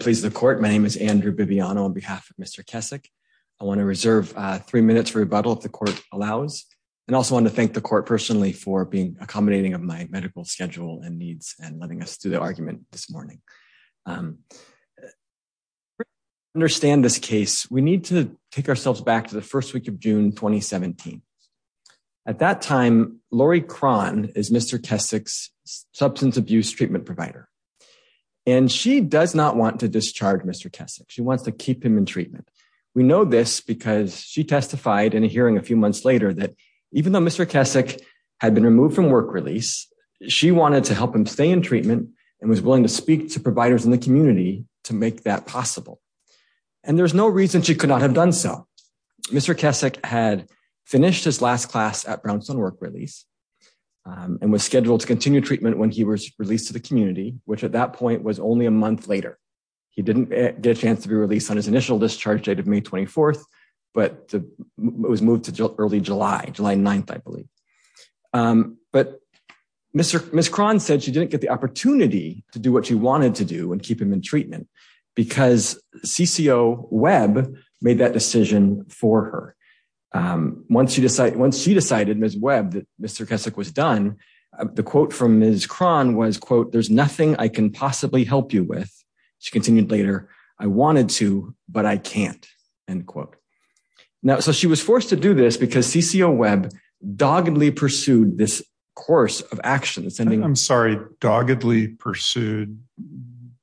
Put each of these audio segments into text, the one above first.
Please the court. My name is Andrew Bibiano on behalf of Mr. Kessack. I want to reserve three minutes rebuttal if the court allows. And also want to thank the court personally for being accommodating of my medical schedule and needs and letting us do the argument this morning. Understand this case, we need to take ourselves back to the first week of June 2017. At that time, Lori Cron is Mr. Kessack's substance abuse treatment provider. And she does not want to discharge Mr. Kessack. She wants to keep him in treatment. We know this because she testified in a hearing a few months later that even though Mr. Kessack had been removed from work release, she wanted to help him stay in treatment and was willing to speak to providers in the community to make that possible. And there's no reason she could not have done so. Mr. Kessack had finished his last class at Brownstone work release and was scheduled to continue treatment when he was released to the community, which at that point was only a month later. He didn't get a chance to be released on his initial discharge date of May 24th, but it was moved to early July, July 9th, I believe. But Ms. Cron said she didn't get the opportunity to do what she wanted to do and keep him in treatment because CCO Webb made that decision for her. Once she decided, Ms. Webb, that Mr. Kessack was done, the quote from Ms. Cron was, quote, there's nothing I can possibly help you with. She continued later, I wanted to, but I can't, end quote. Now, so she was forced to do this because CCO Webb doggedly pursued this course of action. I'm sorry, doggedly pursued.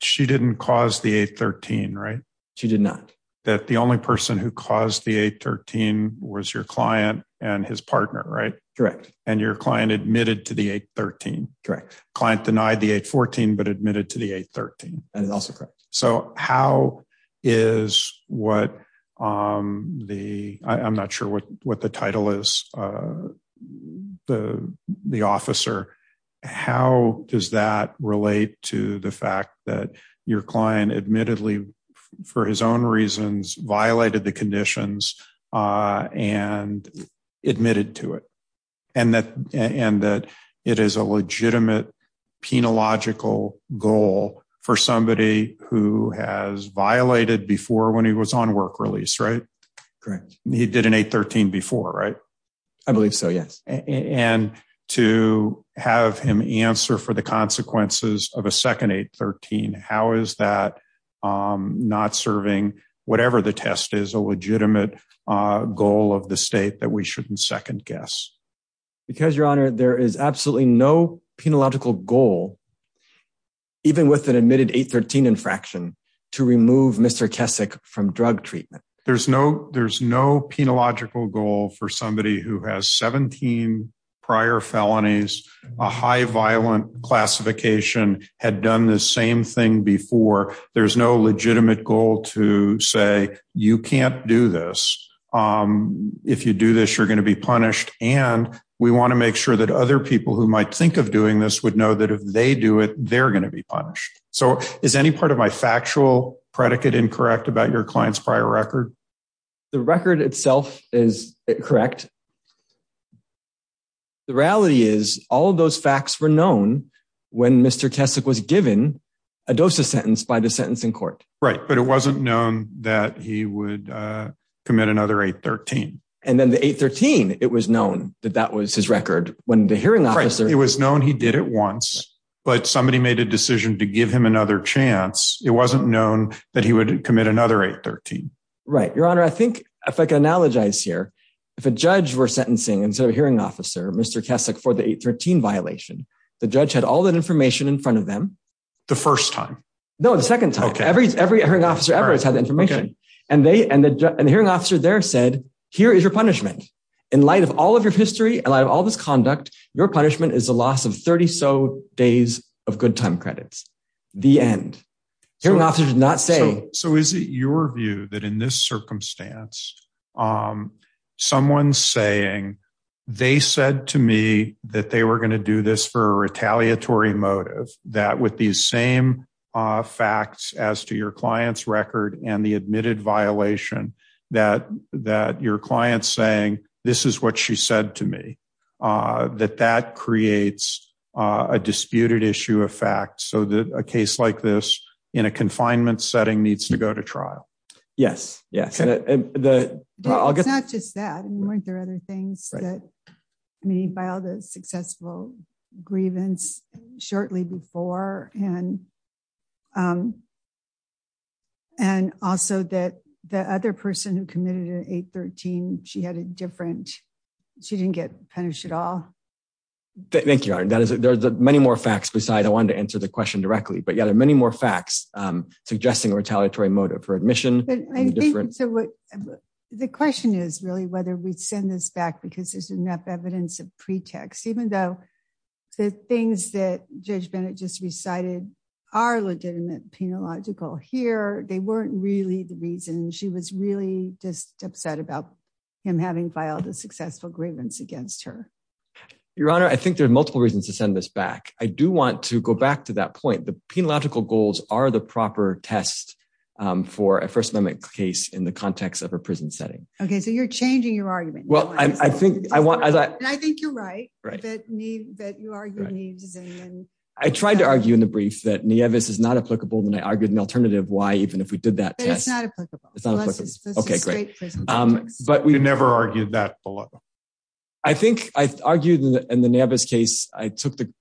She didn't cause the 813, right? She did not. That the only person who caused the 813 was your client and his partner, right? Correct. And your client admitted to the 813. Correct. Client denied the 814, but admitted to the 813. That is also correct. So how is what the, I'm not sure what the title is, the officer, how does that relate to the fact that your client admittedly, for his own reasons, violated the conditions and admitted to it? And that it is a legitimate, penological goal for somebody who has violated before when he was on work release, right? Correct. He did an 813 before, right? I believe so, yes. And to have him answer for the consequences of a second 813, how is that not serving whatever the test is, a legitimate goal of the state that we shouldn't second guess? Because your honor, there is absolutely no penological goal, even with an admitted 813 infraction, to remove Mr. Kesick from drug treatment. There's no, there's no penological goal for somebody who has 17 prior felonies, a high violent classification, had done the same thing before. There's no legitimate goal to say, you can't do this. If you do this, you're going to be punished. And we want to make sure that other people who might think of doing this would know that if they do it, they're going to be punished. So is any part of my factual predicate incorrect about your client's prior record? The record itself is correct. The reality is all of those facts were known when Mr. Kesick was given a dose of sentence by the sentencing court. Right. But it wasn't known that he would commit another 813. And then the 813, it was known that that was his record when the hearing officer, it was known he did it once, but somebody made a decision to give him another chance. It wasn't known that he would commit another 813. Right. Your honor. I think if I can analogize here, if a judge were sentencing, instead of hearing officer, Mr. Kesick for the 813 violation, the judge had all that information in front of them. The first time. No, the second time. Okay. Every, every hearing officer ever has had the information and they, and the hearing officer there said, here is your punishment in light of all of your history. And I have all this conduct. Your punishment is a loss of 30. So days of good time credits, the end hearing officer did not say. So is it your view that in this circumstance, someone's saying they said to me that they were going to do this for a retaliatory motive that with these same facts as to your client's record and the admitted violation that, that your client's saying, this is what she said to me, that that creates a disputed issue of fact. So that a case like this in a confinement setting needs to go to trial. Yes. Yes. And the, I'll get. It's not just that. I mean, weren't there other things that, I mean, he filed a successful grievance shortly before and, and also that the other person who committed an eight 13, she had a different, she didn't get punished at all. Thank you. That is, there's many more facts beside. I wanted to answer the question directly, but yeah, there are many more facts suggesting a retaliatory motive for admission. The question is really whether we send this back because there's enough evidence of pretext, even though the things that judge Bennett just recited are legitimate, penological here. They weren't really the reason she was really just upset about him having filed a successful grievance against her. Your honor. I think there are multiple reasons to send this back. I do want to go back to that point. The penological goals are the proper test for a first amendment case in the context of a prison setting. Okay. So you're changing your argument. Well, I think I want, and I think you're right. I tried to argue in the brief that Nevis is not applicable. Then I argued an alternative. Why, even if we did that test, it's not applicable, but we never argued that. I think I argued in the Navis case, I took the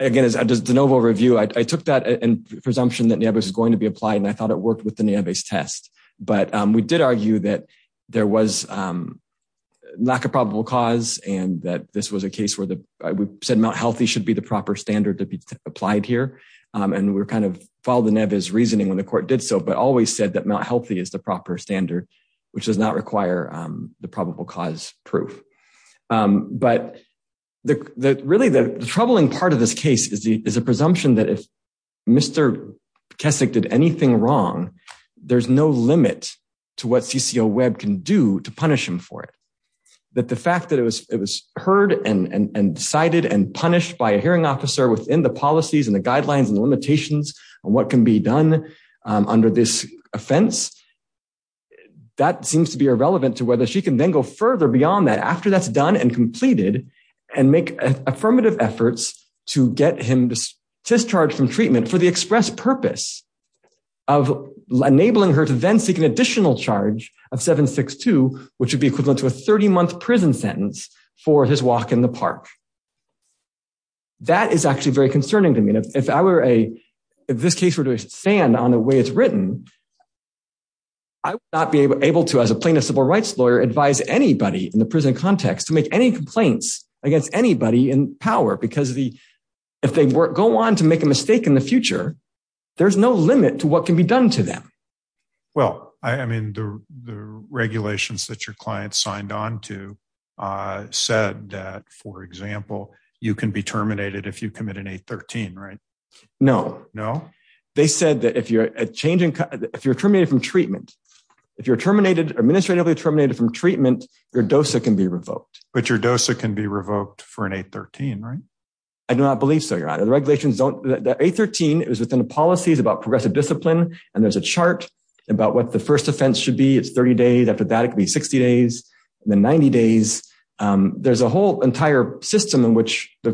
again, as I does the novel review, I took that and presumption that neighbors is going to be applied. And I thought it worked with the test, but we did argue that there was not a probable cause. And that this was a case where we said Mount healthy should be the proper standard to be applied here. And we're kind of followed the Nevis reasoning when the court did so, but always said that Mount healthy is the proper standard, which does not require the probable cause proof. But really the troubling part of this case is the, is a presumption that if Mr. Keswick did anything wrong, there's no limit to what CCO web can do to punish him for it. That the fact that it was, it was heard and cited and punished by a hearing officer within the policies and the guidelines and the limitations and what can be done under this offense, that seems to be irrelevant to whether she can then further beyond that after that's done and completed and make affirmative efforts to get him discharged from treatment for the express purpose of enabling her to then seek an additional charge of 762, which would be equivalent to a 30 month prison sentence for his walk in the park. That is actually very concerning to me. And if I were a, if this case were to stand on the way it's written, I would not be able to, as a plaintiff civil rights lawyer, advise anybody in the prison context to make any complaints against anybody in power because of the, if they go on to make a mistake in the future, there's no limit to what can be done to them. Well, I mean, the, the regulations that your client signed on to said that, for example, you can be terminated if you commit an eight 13, right? No, no. They said that if you're changing, if you're terminated from treatment, if you're terminated, administratively terminated from treatment, your dosa can be revoked. But your dosa can be revoked for an eight 13, right? I do not believe so. You're out of the regulations. Don't the eight 13, it was within the policies about progressive discipline. And there's a chart about what the first offense should be. It's 30 days after that, it could be 60 days and then 90 days. There's a whole entire system in which the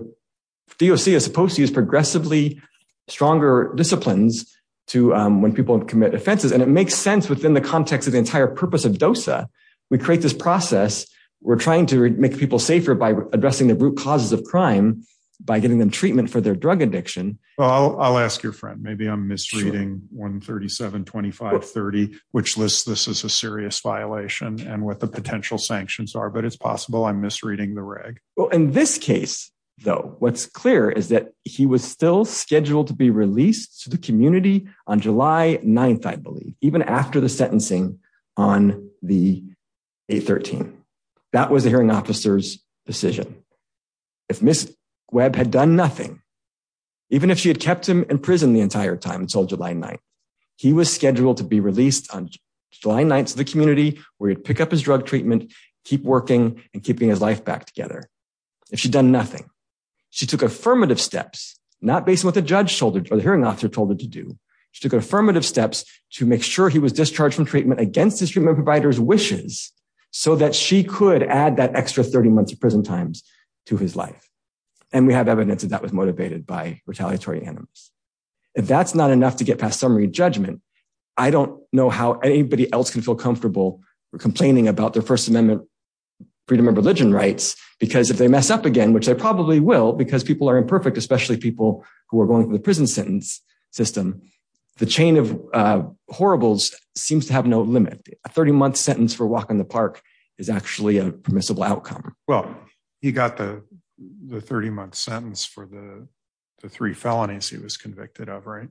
DOC is supposed to use progressively stronger disciplines to when people commit offenses. And it makes sense within the context of the entire purpose of dosa. We create this process. We're trying to make people safer by addressing the root causes of crime by getting them treatment for their drug addiction. Well, I'll ask your friend, maybe I'm misreading 137, 25, 30, which lists this as a serious violation and what the potential sanctions are, but it's possible I'm misreading the reg. Well, in this case, though, what's clear is that he was still scheduled to be released to the community on July 9th, I believe, even after the sentencing on the eight 13, that was the hearing officer's decision. If Ms. Webb had done nothing, even if she had kept him in prison the entire time until July 9th, he was scheduled to be released on July 9th to the community where he'd pick up his drug treatment, keep working and keeping his life back together. If she'd done nothing, she took affirmative steps, not based on what the judge told her or the hearing officer told her to do. She took affirmative steps to make sure he was discharged from treatment against his treatment provider's wishes so that she could add that extra 30 months of prison times to his life. And we have evidence that that was motivated by retaliatory animals. If that's not enough to get past summary judgment, I don't know how anybody else can feel complaining about their first amendment freedom of religion rights, because if they mess up again, which they probably will, because people are imperfect, especially people who are going through the prison sentence system, the chain of horribles seems to have no limit. A 30 month sentence for walking the park is actually a permissible outcome. Well, he got the 30 month sentence for the three felonies he was convicted of. Right.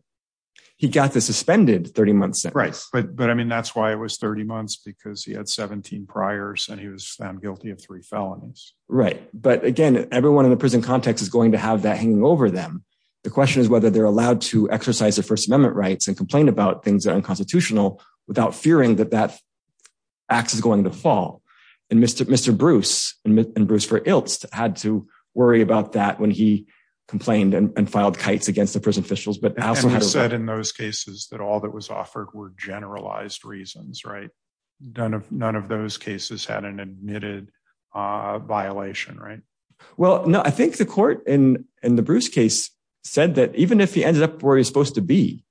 He got the suspended 30 months. Right. But I mean, that's why it was 30 months, because he had 17 priors and he was found guilty of three felonies. Right. But again, everyone in the prison context is going to have that hanging over them. The question is whether they're allowed to exercise their first amendment rights and complain about things that are unconstitutional without fearing that that axe is going to fall. And Mr. Bruce and Bruce for Ilst had to worry about that when he complained and filed kites against the officials. But I said in those cases that all that was offered were generalized reasons. Right. None of those cases had an admitted violation. Right. Well, no, I think the court in the Bruce case said that even if he ended up where he's supposed to be,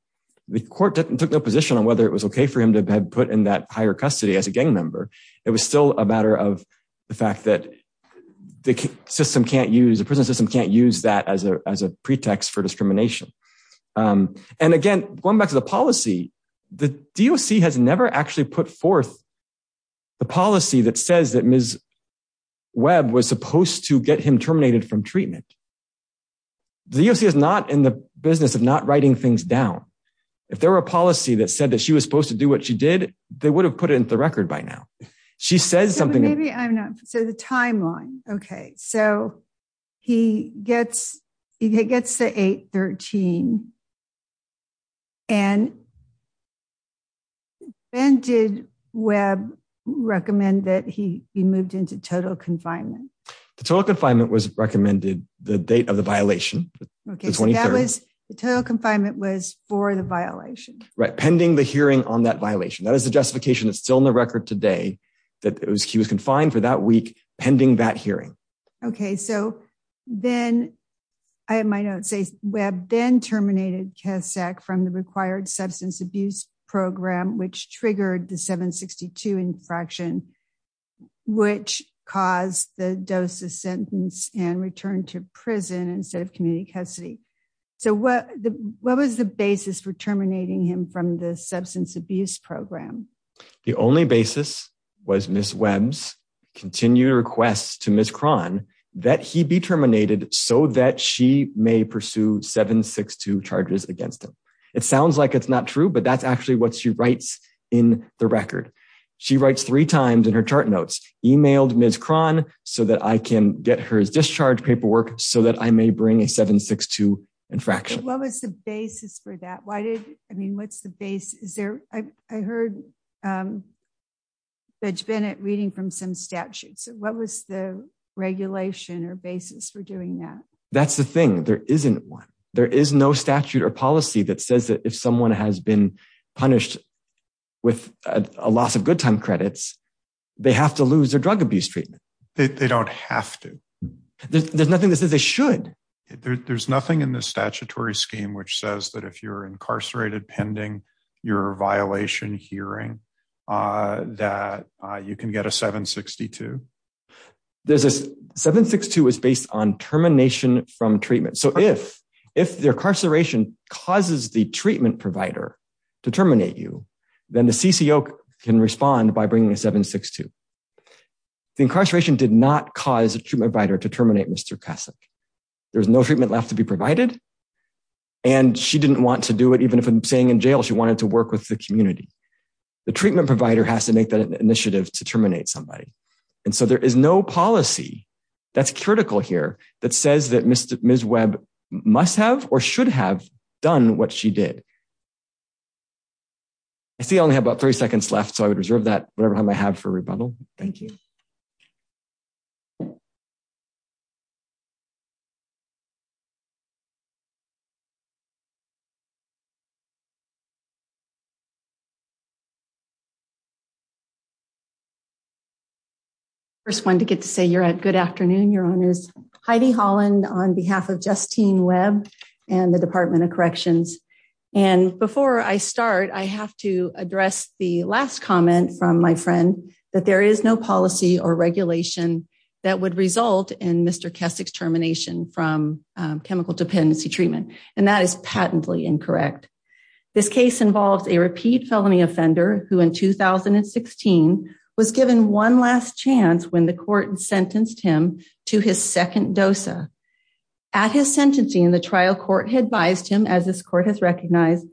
the court took no position on whether it was OK for him to have put in that higher custody as a gang member. It was still a matter of the fact that the system can't use the prison system, can't use that as a as a pretext for discrimination. And again, going back to the policy, the DOC has never actually put forth the policy that says that Ms. Webb was supposed to get him terminated from treatment. The DOC is not in the business of not writing things down. If there were a policy that said that she was supposed to do what she did, they would have put it into the record by now. She says something. Maybe I'm not. So the timeline. OK, so he gets he gets the 813. And. And did Webb recommend that he he moved into total confinement, the total confinement was recommended the date of the violation. OK, so that was the total confinement was for the violation, right? Pending the hearing on violation. That is the justification that's still in the record today that he was confined for that week pending that hearing. OK, so then I might not say Webb then terminated Kessack from the required substance abuse program, which triggered the 762 infraction, which caused the dose of sentence and returned to prison instead of community custody. So what what was the basis for terminating him from the substance abuse program? The only basis was Miss Webb's continued requests to Miss Cron that he be terminated so that she may pursue 762 charges against him. It sounds like it's not true, but that's actually what she writes in the record. She writes three times in her chart notes, emailed Miss Cron so that I can get her discharge paperwork so that I may bring a 762 infraction. What was the basis for that? Why did I mean, what's the base? Is there? I heard Judge Bennett reading from some statutes. What was the regulation or basis for doing that? That's the thing. There isn't one. There is no statute or policy that says that if someone has been punished with a loss of good time credits, they have to lose their drug abuse treatment. They don't have to. There's nothing that says they should. There's nothing in the statutory scheme which says that if you're incarcerated pending your violation hearing that you can get a 762. There's a 762 is based on termination from treatment. So if the incarceration causes the treatment provider to terminate you, then the CCO can respond by bringing a 762. The incarceration did not cause a treatment provider to terminate Mr. Kasich. There's no treatment left to be provided and she didn't want to do it, even if I'm saying in jail, she wanted to work with the community. The treatment provider has to make that initiative to terminate somebody. And so there is no policy that's critical here that says that Ms. Webb must have or should have done what she did. I see I only have about 30 seconds left, so I would reserve that time I have for rebuttal. Thank you. First one to get to say you're at good afternoon, your honors. Heidi Holland on behalf of Justine Webb and the Department of Corrections. And before I start, I have to address the last comment from my friend, that there is no policy or regulation that would result in Mr. Kasich's termination from chemical dependency treatment. And that is patently incorrect. This case involves a repeat felony offender who in 2016 was given one last chance when the court sentenced him to his second dosa. At his sentencing, the trial court had biased him as this court has recognized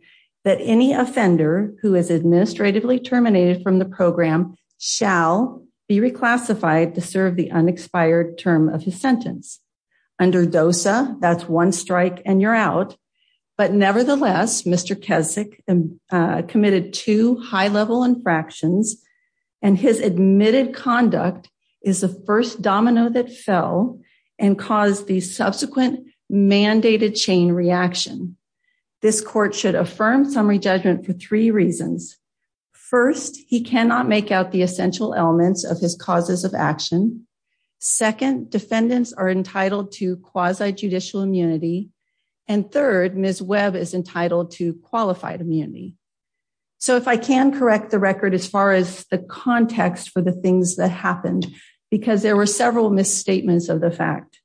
that any offender who is administratively terminated from the program shall be reclassified to serve the unexpired term of his sentence. Under dosa, that's one strike and you're out. But nevertheless, Mr. Kasich committed two high level infractions and his admitted conduct is the first domino that fell and caused the subsequent mandated chain reaction. This court should affirm summary judgment for three reasons. First, he cannot make out the essential elements of his causes of action. Second, defendants are entitled to quasi-judicial immunity. And third, Ms. Webb is entitled to qualified immunity. So if I can correct the record as far as the context for the things that happened, because there were several misstatements of the fact.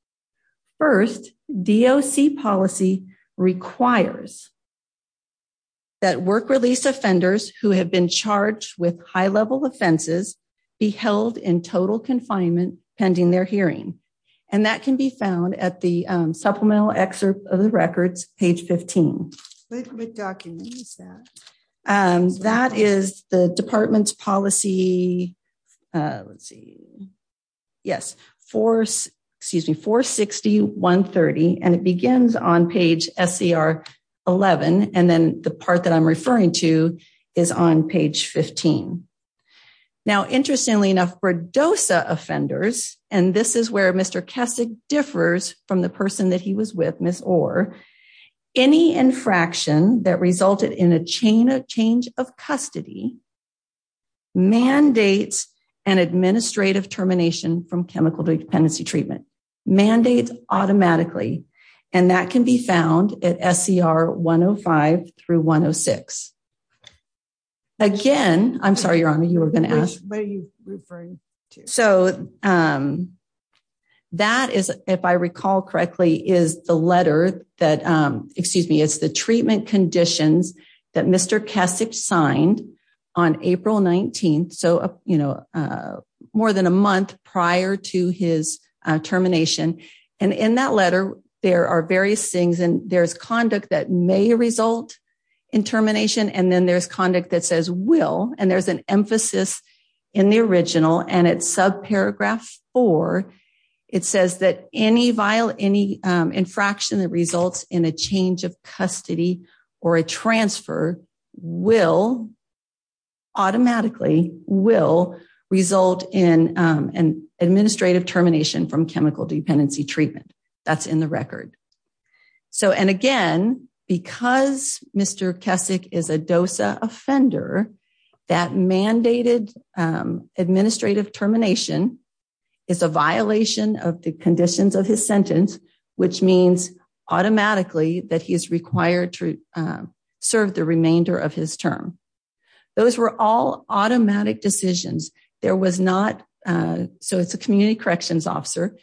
First, DOC policy requires that work release offenders who have been charged with high level offenses be held in total confinement pending their hearing. And that can be found at the supplemental excerpt of the records, page 15. That is the department's policy, let's see, yes, excuse me, 460.130. And it begins on page SCR 11. And then the part that I'm referring to is on page 15. Now, interestingly enough, for dosa offenders, and this is where Mr. Kasich differs from the person that he was with Ms. Orr, any infraction that resulted in a chain of change of custody mandates an administrative termination from chemical dependency treatment, mandates automatically. And that can be found at SCR 105 through 106. Again, I'm sorry, Your Honor, you were going to ask, what are you referring to? So that is, if I recall correctly, is the letter that, excuse me, it's the treatment conditions that Mr. Kasich signed on April 19th. So more than a month prior to his termination. And in that letter, there are various things and there's conduct that may result in termination. And then there's conduct that says will, and there's an emphasis in the original and it's will automatically will result in an administrative termination from chemical dependency treatment. That's in the record. So, and again, because Mr. Kasich is a dosa offender, that mandated administrative termination is a violation of the conditions of his sentence, which means automatically that he is required to serve the remainder of his term. Those were all automatic decisions. There was not, so it's a community corrections officer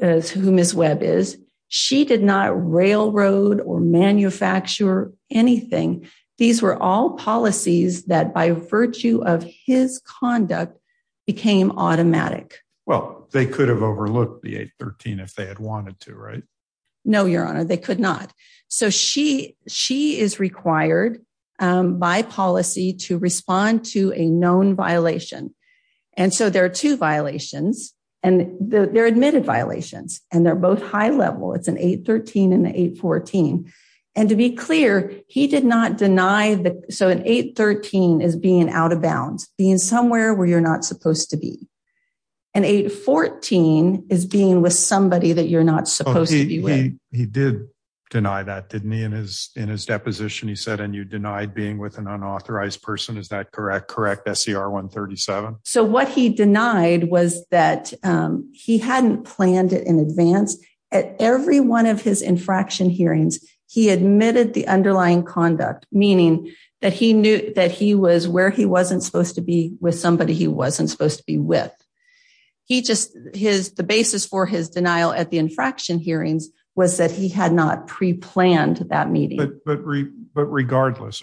who Ms. Webb is. She did not railroad or manufacture anything. These were all policies that by virtue of his conduct became automatic. Well, they could have overlooked the 813 if they wanted to, right? No, your honor, they could not. So she is required by policy to respond to a known violation. And so there are two violations and they're admitted violations and they're both high level. It's an 813 and the 814. And to be clear, he did not deny that. So an 813 is being out of bounds, being somewhere where you're not supposed to be. An 814 is being with somebody that you're not supposed to be with. He did deny that, didn't he? In his deposition, he said, and you denied being with an unauthorized person. Is that correct? Correct. SCR 137. So what he denied was that he hadn't planned it in advance. At every one of his infraction hearings, he admitted the underlying conduct, meaning that he knew that where he wasn't supposed to be with somebody he wasn't supposed to be with. The basis for his denial at the infraction hearings was that he had not pre-planned that meeting. But regardless,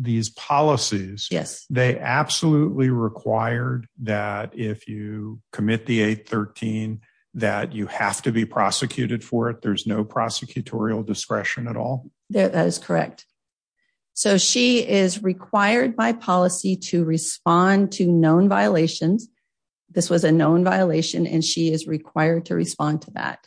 these policies, they absolutely required that if you commit the 813, that you have to be by policy to respond to known violations. This was a known violation and she is required to respond to that.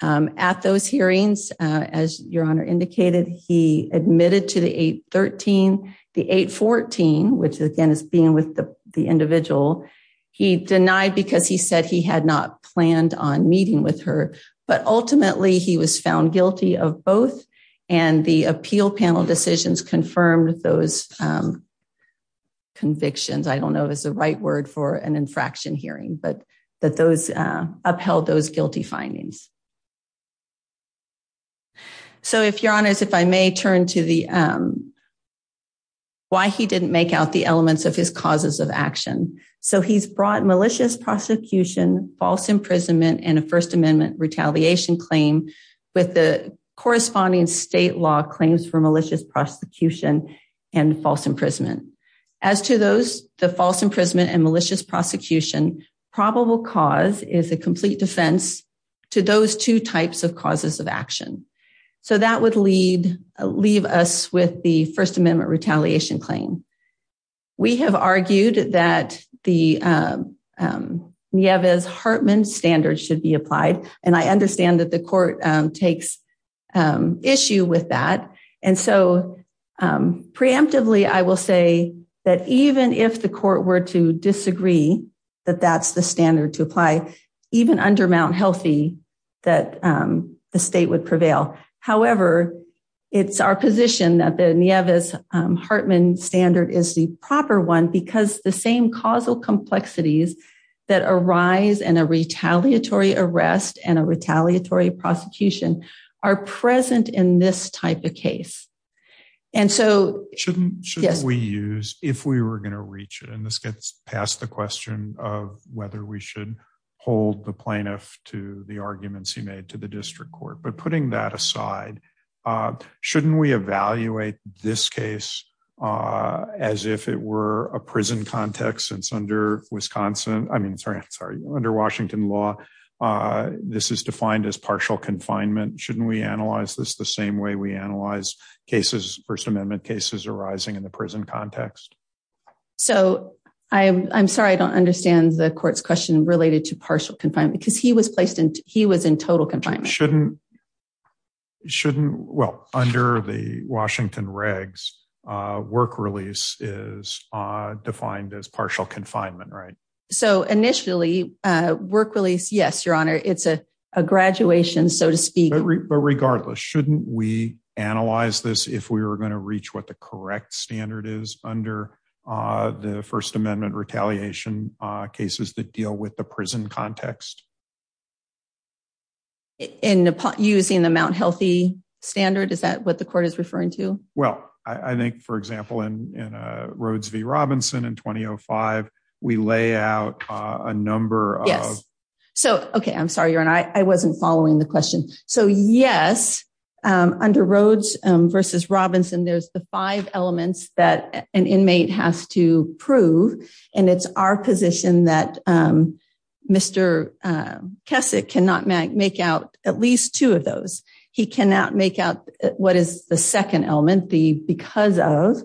At those hearings, as your honor indicated, he admitted to the 813, the 814, which again is being with the individual. He denied because he said he had not planned on meeting with her, but ultimately he was found guilty of both. And the appeal panel decisions confirmed those convictions. I don't know if it's the right word for an infraction hearing, but that those upheld those guilty findings. So if your honors, if I may turn to the why he didn't make out the elements of his causes of action. So he's brought malicious prosecution, false imprisonment, and a first amendment retaliation claim with the corresponding state law claims for malicious prosecution and false imprisonment. As to those, the false imprisonment and malicious prosecution, probable cause is a complete defense to those two types of causes of action. So that would leave us with the first amendment retaliation claim. We have argued that the Nieves-Hartman standard should be applied. And I understand that the court takes issue with that. And so preemptively, I will say that even if the court were to disagree, that that's the standard to apply, even under Mount Healthy, that the state would prevail. However, it's our position that the Nieves-Hartman standard is the proper one because the same causal complexities that arise in a retaliatory arrest and a retaliatory prosecution are present in this type of case. And so... Shouldn't we use, if we were going to reach it, and this gets past the question of whether we should hold the plaintiff to the arguments he made to the district court, but putting that aside, shouldn't we evaluate this case as if it were a prison context, since under Wisconsin, I mean, sorry, under Washington law, this is defined as partial confinement. Shouldn't we analyze this the same way we analyze cases, first amendment cases arising in the prison context? So I'm sorry, I don't understand the court's question related to partial confinement, because he was placed in, he was in total confinement. Shouldn't, well, under the Washington regs, work release is defined as partial confinement, right? So initially, work release, yes, your honor, it's a graduation, so to speak. But regardless, shouldn't we analyze this if we were going to reach what the correct standard is under the first amendment retaliation cases that deal with the prison context? In using the Mount Healthy standard, is that what the court is referring to? Well, I think, for example, in Rhodes v. Robinson in 2005, we lay out a number of- Yes. So, okay, I'm sorry, your honor, I wasn't following the question. So yes, under Rhodes versus Robinson, there's the five elements that an inmate has to prove, and it's our position that Mr. Keswick cannot make out at least two of those. He cannot make out what is the second element, the because of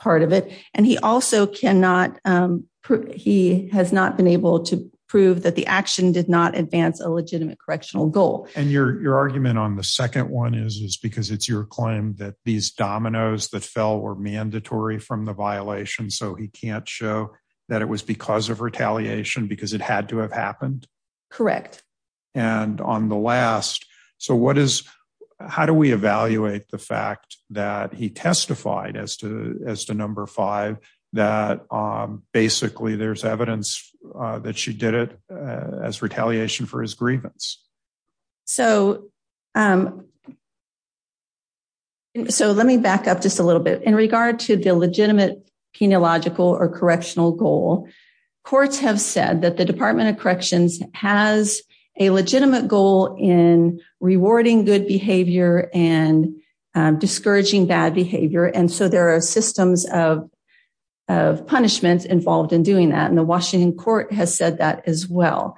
part of it, and he also cannot, he has not been able to prove that the action did not advance a legitimate correctional goal. And your argument on the second one is because it's your claim that these dominoes that fell were mandatory from the violation, so he can't show that it was because of retaliation because it had to have happened? Correct. And on the last, so what is, how do we evaluate the fact that he testified as to number five, that basically there's evidence that she did it as retaliation for his grievance? So, let me back up just a little bit. In regard to the legitimate penological or correctional goal, courts have said that the Department of Corrections has a legitimate goal in rewarding good behavior and discouraging bad behavior, and so there are systems of punishments involved in doing that, and the Washington Court has said that as well.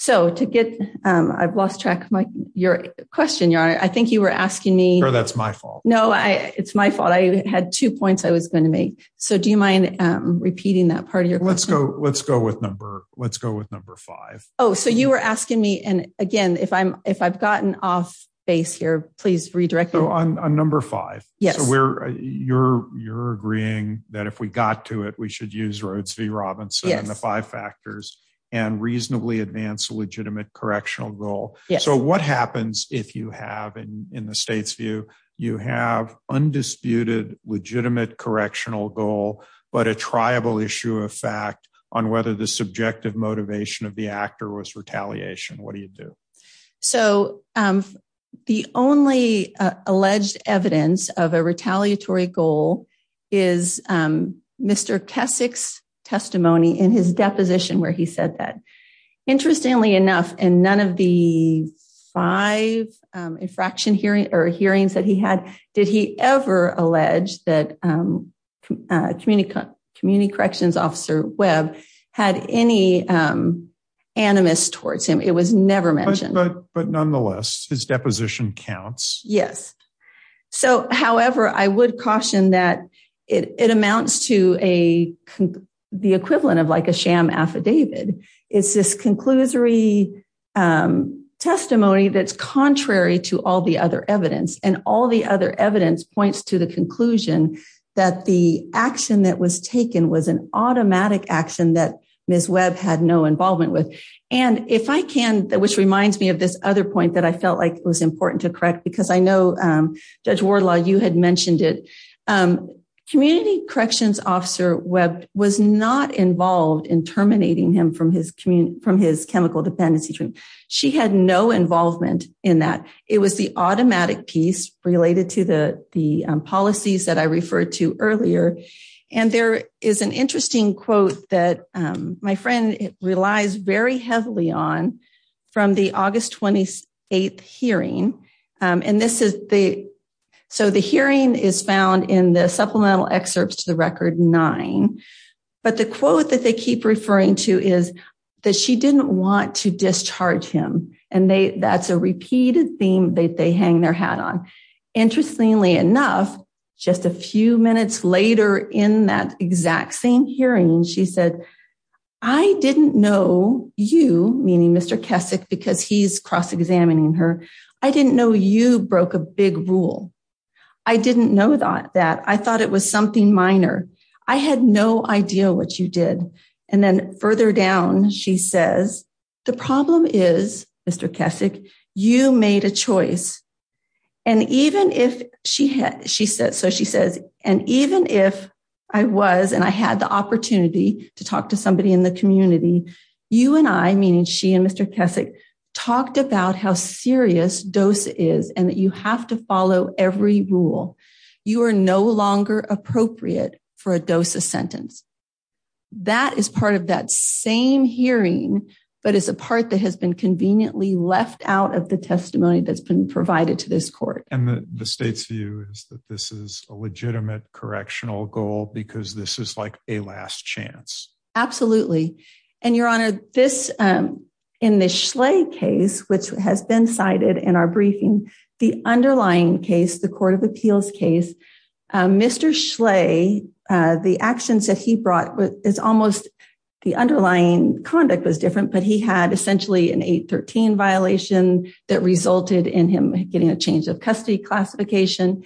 So, to get, I've lost track of your question, Your Honor. I think you were asking me. That's my fault. No, it's my fault. I had two points I was going to make. So, do you mind repeating that part of your question? Let's go with number five. Oh, so you were asking me, and again, if I've gotten off base here, please redirect me. So, on number five, so you're agreeing that if we got to it, we should use Rhodes v. Robinson and the five factors and reasonably advance a legitimate correctional goal. So, what happens if you have, in the state's view, you have undisputed legitimate correctional goal, but a triable issue of fact on whether the subjective motivation of the actor was retaliation? What do you do? So, the only alleged evidence of a retaliatory goal is Mr. Kessick's testimony in his deposition where he said that. Interestingly enough, in none of the five infraction hearings that he had, did he ever allege that Community Corrections Officer Webb had any animus towards him. It was never mentioned. But nonetheless, his deposition counts. Yes. So, however, I would caution that it amounts to the equivalent of like a sham affidavit. It's this conclusory testimony that's contrary to all the other evidence, and all the other evidence points to the conclusion that the action that was taken was an automatic action that Ms. Webb had no involvement with. And if I can, which reminds me of this other point that I felt like was important to correct, because I know Judge Wardlaw, you had mentioned it. Community Corrections Officer Webb was not involved in terminating him from his chemical dependency treatment. She had no involvement in that. It was the automatic piece related to the policies that I referred to earlier. And there is an interesting quote that my friend relies very heavily on from the August 28th hearing. So, the hearing is found in the supplemental excerpts to the record nine. But the quote that they keep referring to is that she didn't want to discharge him. And that's a repeated theme that they hang their hat on. Interestingly enough, just a few minutes later in that exact same hearing, she said, I didn't know you, meaning Mr. Kessick, because he's cross-examining her. I didn't know you broke a big rule. I didn't know that. I thought it was something minor. I had no idea what you did. And then further down, she says, the problem is, Mr. Kessick, you made a choice. And even if I was, and I had the opportunity to talk to somebody in the community, you and I, meaning she and Mr. Kessick, talked about how serious DOSA is, and that you have to follow every rule. You are no longer appropriate for a DOSA sentence. That is part of that same hearing, but it's a part that has been conveniently left out of the testimony that's been provided to this court. And the state's view is that this is a legitimate correctional goal because this is like a last chance. Absolutely. And Your Honor, this, in the Schley case, which has been cited in our briefing, the underlying case, the court of appeals case, Mr. Schley, the actions that he brought is almost, the underlying conduct was different, but he had essentially an 813 violation that resulted in him getting a change of custody classification,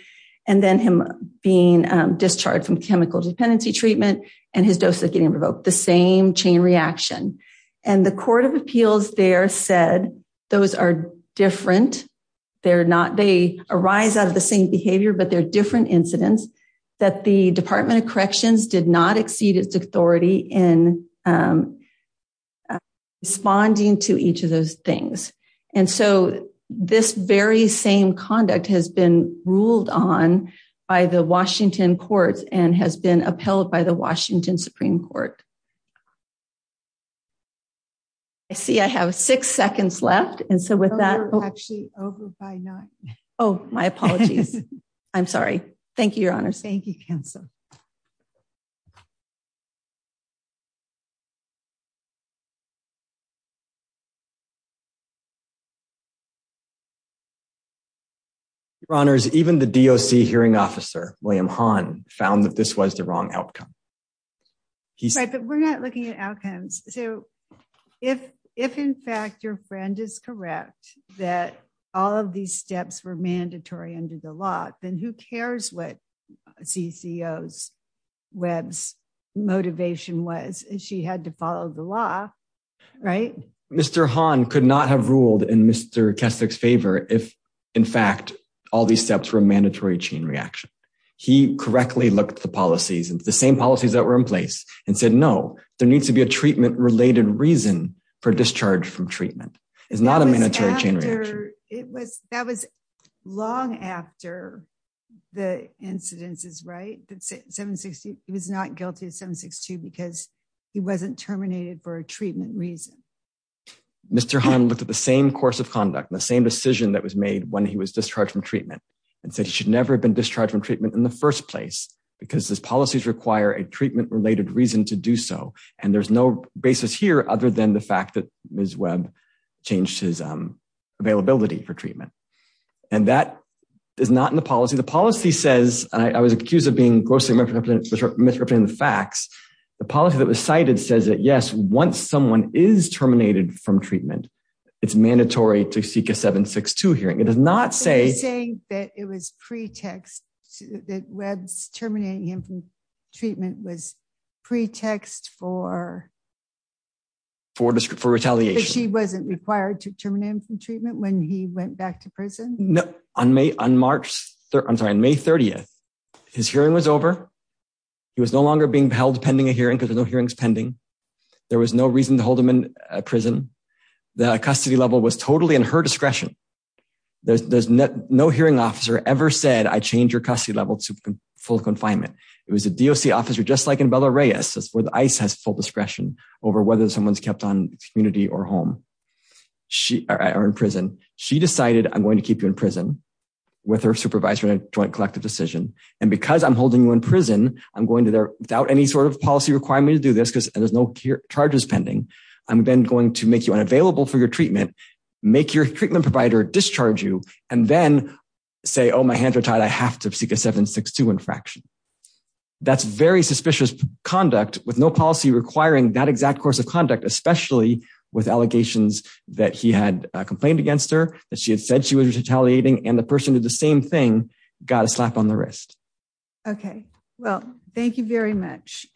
and then him being discharged from chemical dependency treatment, and his DOSA getting revoked, the same chain reaction. And the court of appeals there said those are different incidents, that the Department of Corrections did not exceed its authority in responding to each of those things. And so this very same conduct has been ruled on by the Washington courts and has been upheld by the Washington Supreme Court. I see I have six seconds left, and so with that... You're actually over by nine. Oh, my apologies. I'm sorry. Thank you, Your Honors. Thank you, Counsel. Your Honors, even the DOC hearing officer, William Hahn, found that this was the wrong outcome. Right, but we're not looking at outcomes. So if, in fact, your friend is correct that all of these steps were mandatory under the law, then who cares what CCO Webb's motivation was? She had to follow the law, right? Mr. Hahn could not have ruled in Mr. Kessler's favor if, in fact, all these steps were a mandatory chain reaction. He correctly looked at the policies, the same policies that were in place, and said, no, there needs to be a treatment-related reason for discharge from treatment. It's not a mandatory chain reaction. That was long after the incidences, right? He was not guilty of 762 because he wasn't terminated for a treatment reason. Mr. Hahn looked at the same course of conduct, the same decision that was made when he was discharged from treatment, and said he should never have been discharged from treatment in the first place because his policies require a treatment-related reason to do so, and there's no basis here other than the fact that Ms. Webb changed his availability for treatment. And that is not in the policy. The policy says, and I was accused of being grossly misrepresenting the facts, the policy that was cited says that, yes, once someone is terminated from treatment, it's mandatory to seek a 762 hearing. It does not say- For retaliation. She wasn't required to terminate him from treatment when he went back to prison? No. On May 30th, his hearing was over. He was no longer being held pending a hearing because there's no hearings pending. There was no reason to hold him in prison. The custody level was totally in her discretion. No hearing officer ever said, I changed your custody level to full confinement. It was a DOC officer, just like in Bella Reyes, where ICE has full discretion over whether someone's kept on community or home, or in prison. She decided, I'm going to keep you in prison with her supervisor and a joint collective decision. And because I'm holding you in prison, I'm going to, without any sort of policy requirement to do this, because there's no charges pending, I'm then going to make you unavailable for your treatment, make your treatment provider discharge you, and then say, oh, my hands are tied, I have to seek a 7-6-2 infraction. That's very suspicious conduct with no policy requiring that exact course of conduct, especially with allegations that he had complained against her, that she had said she was retaliating, and the person did the same thing, got a slap on the wrist. Okay. Well, thank you very much.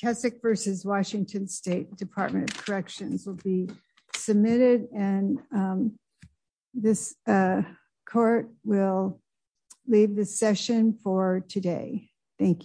Keswick v. Washington State Department of Corrections will be submitted, and this court will leave the session for today. Thank you.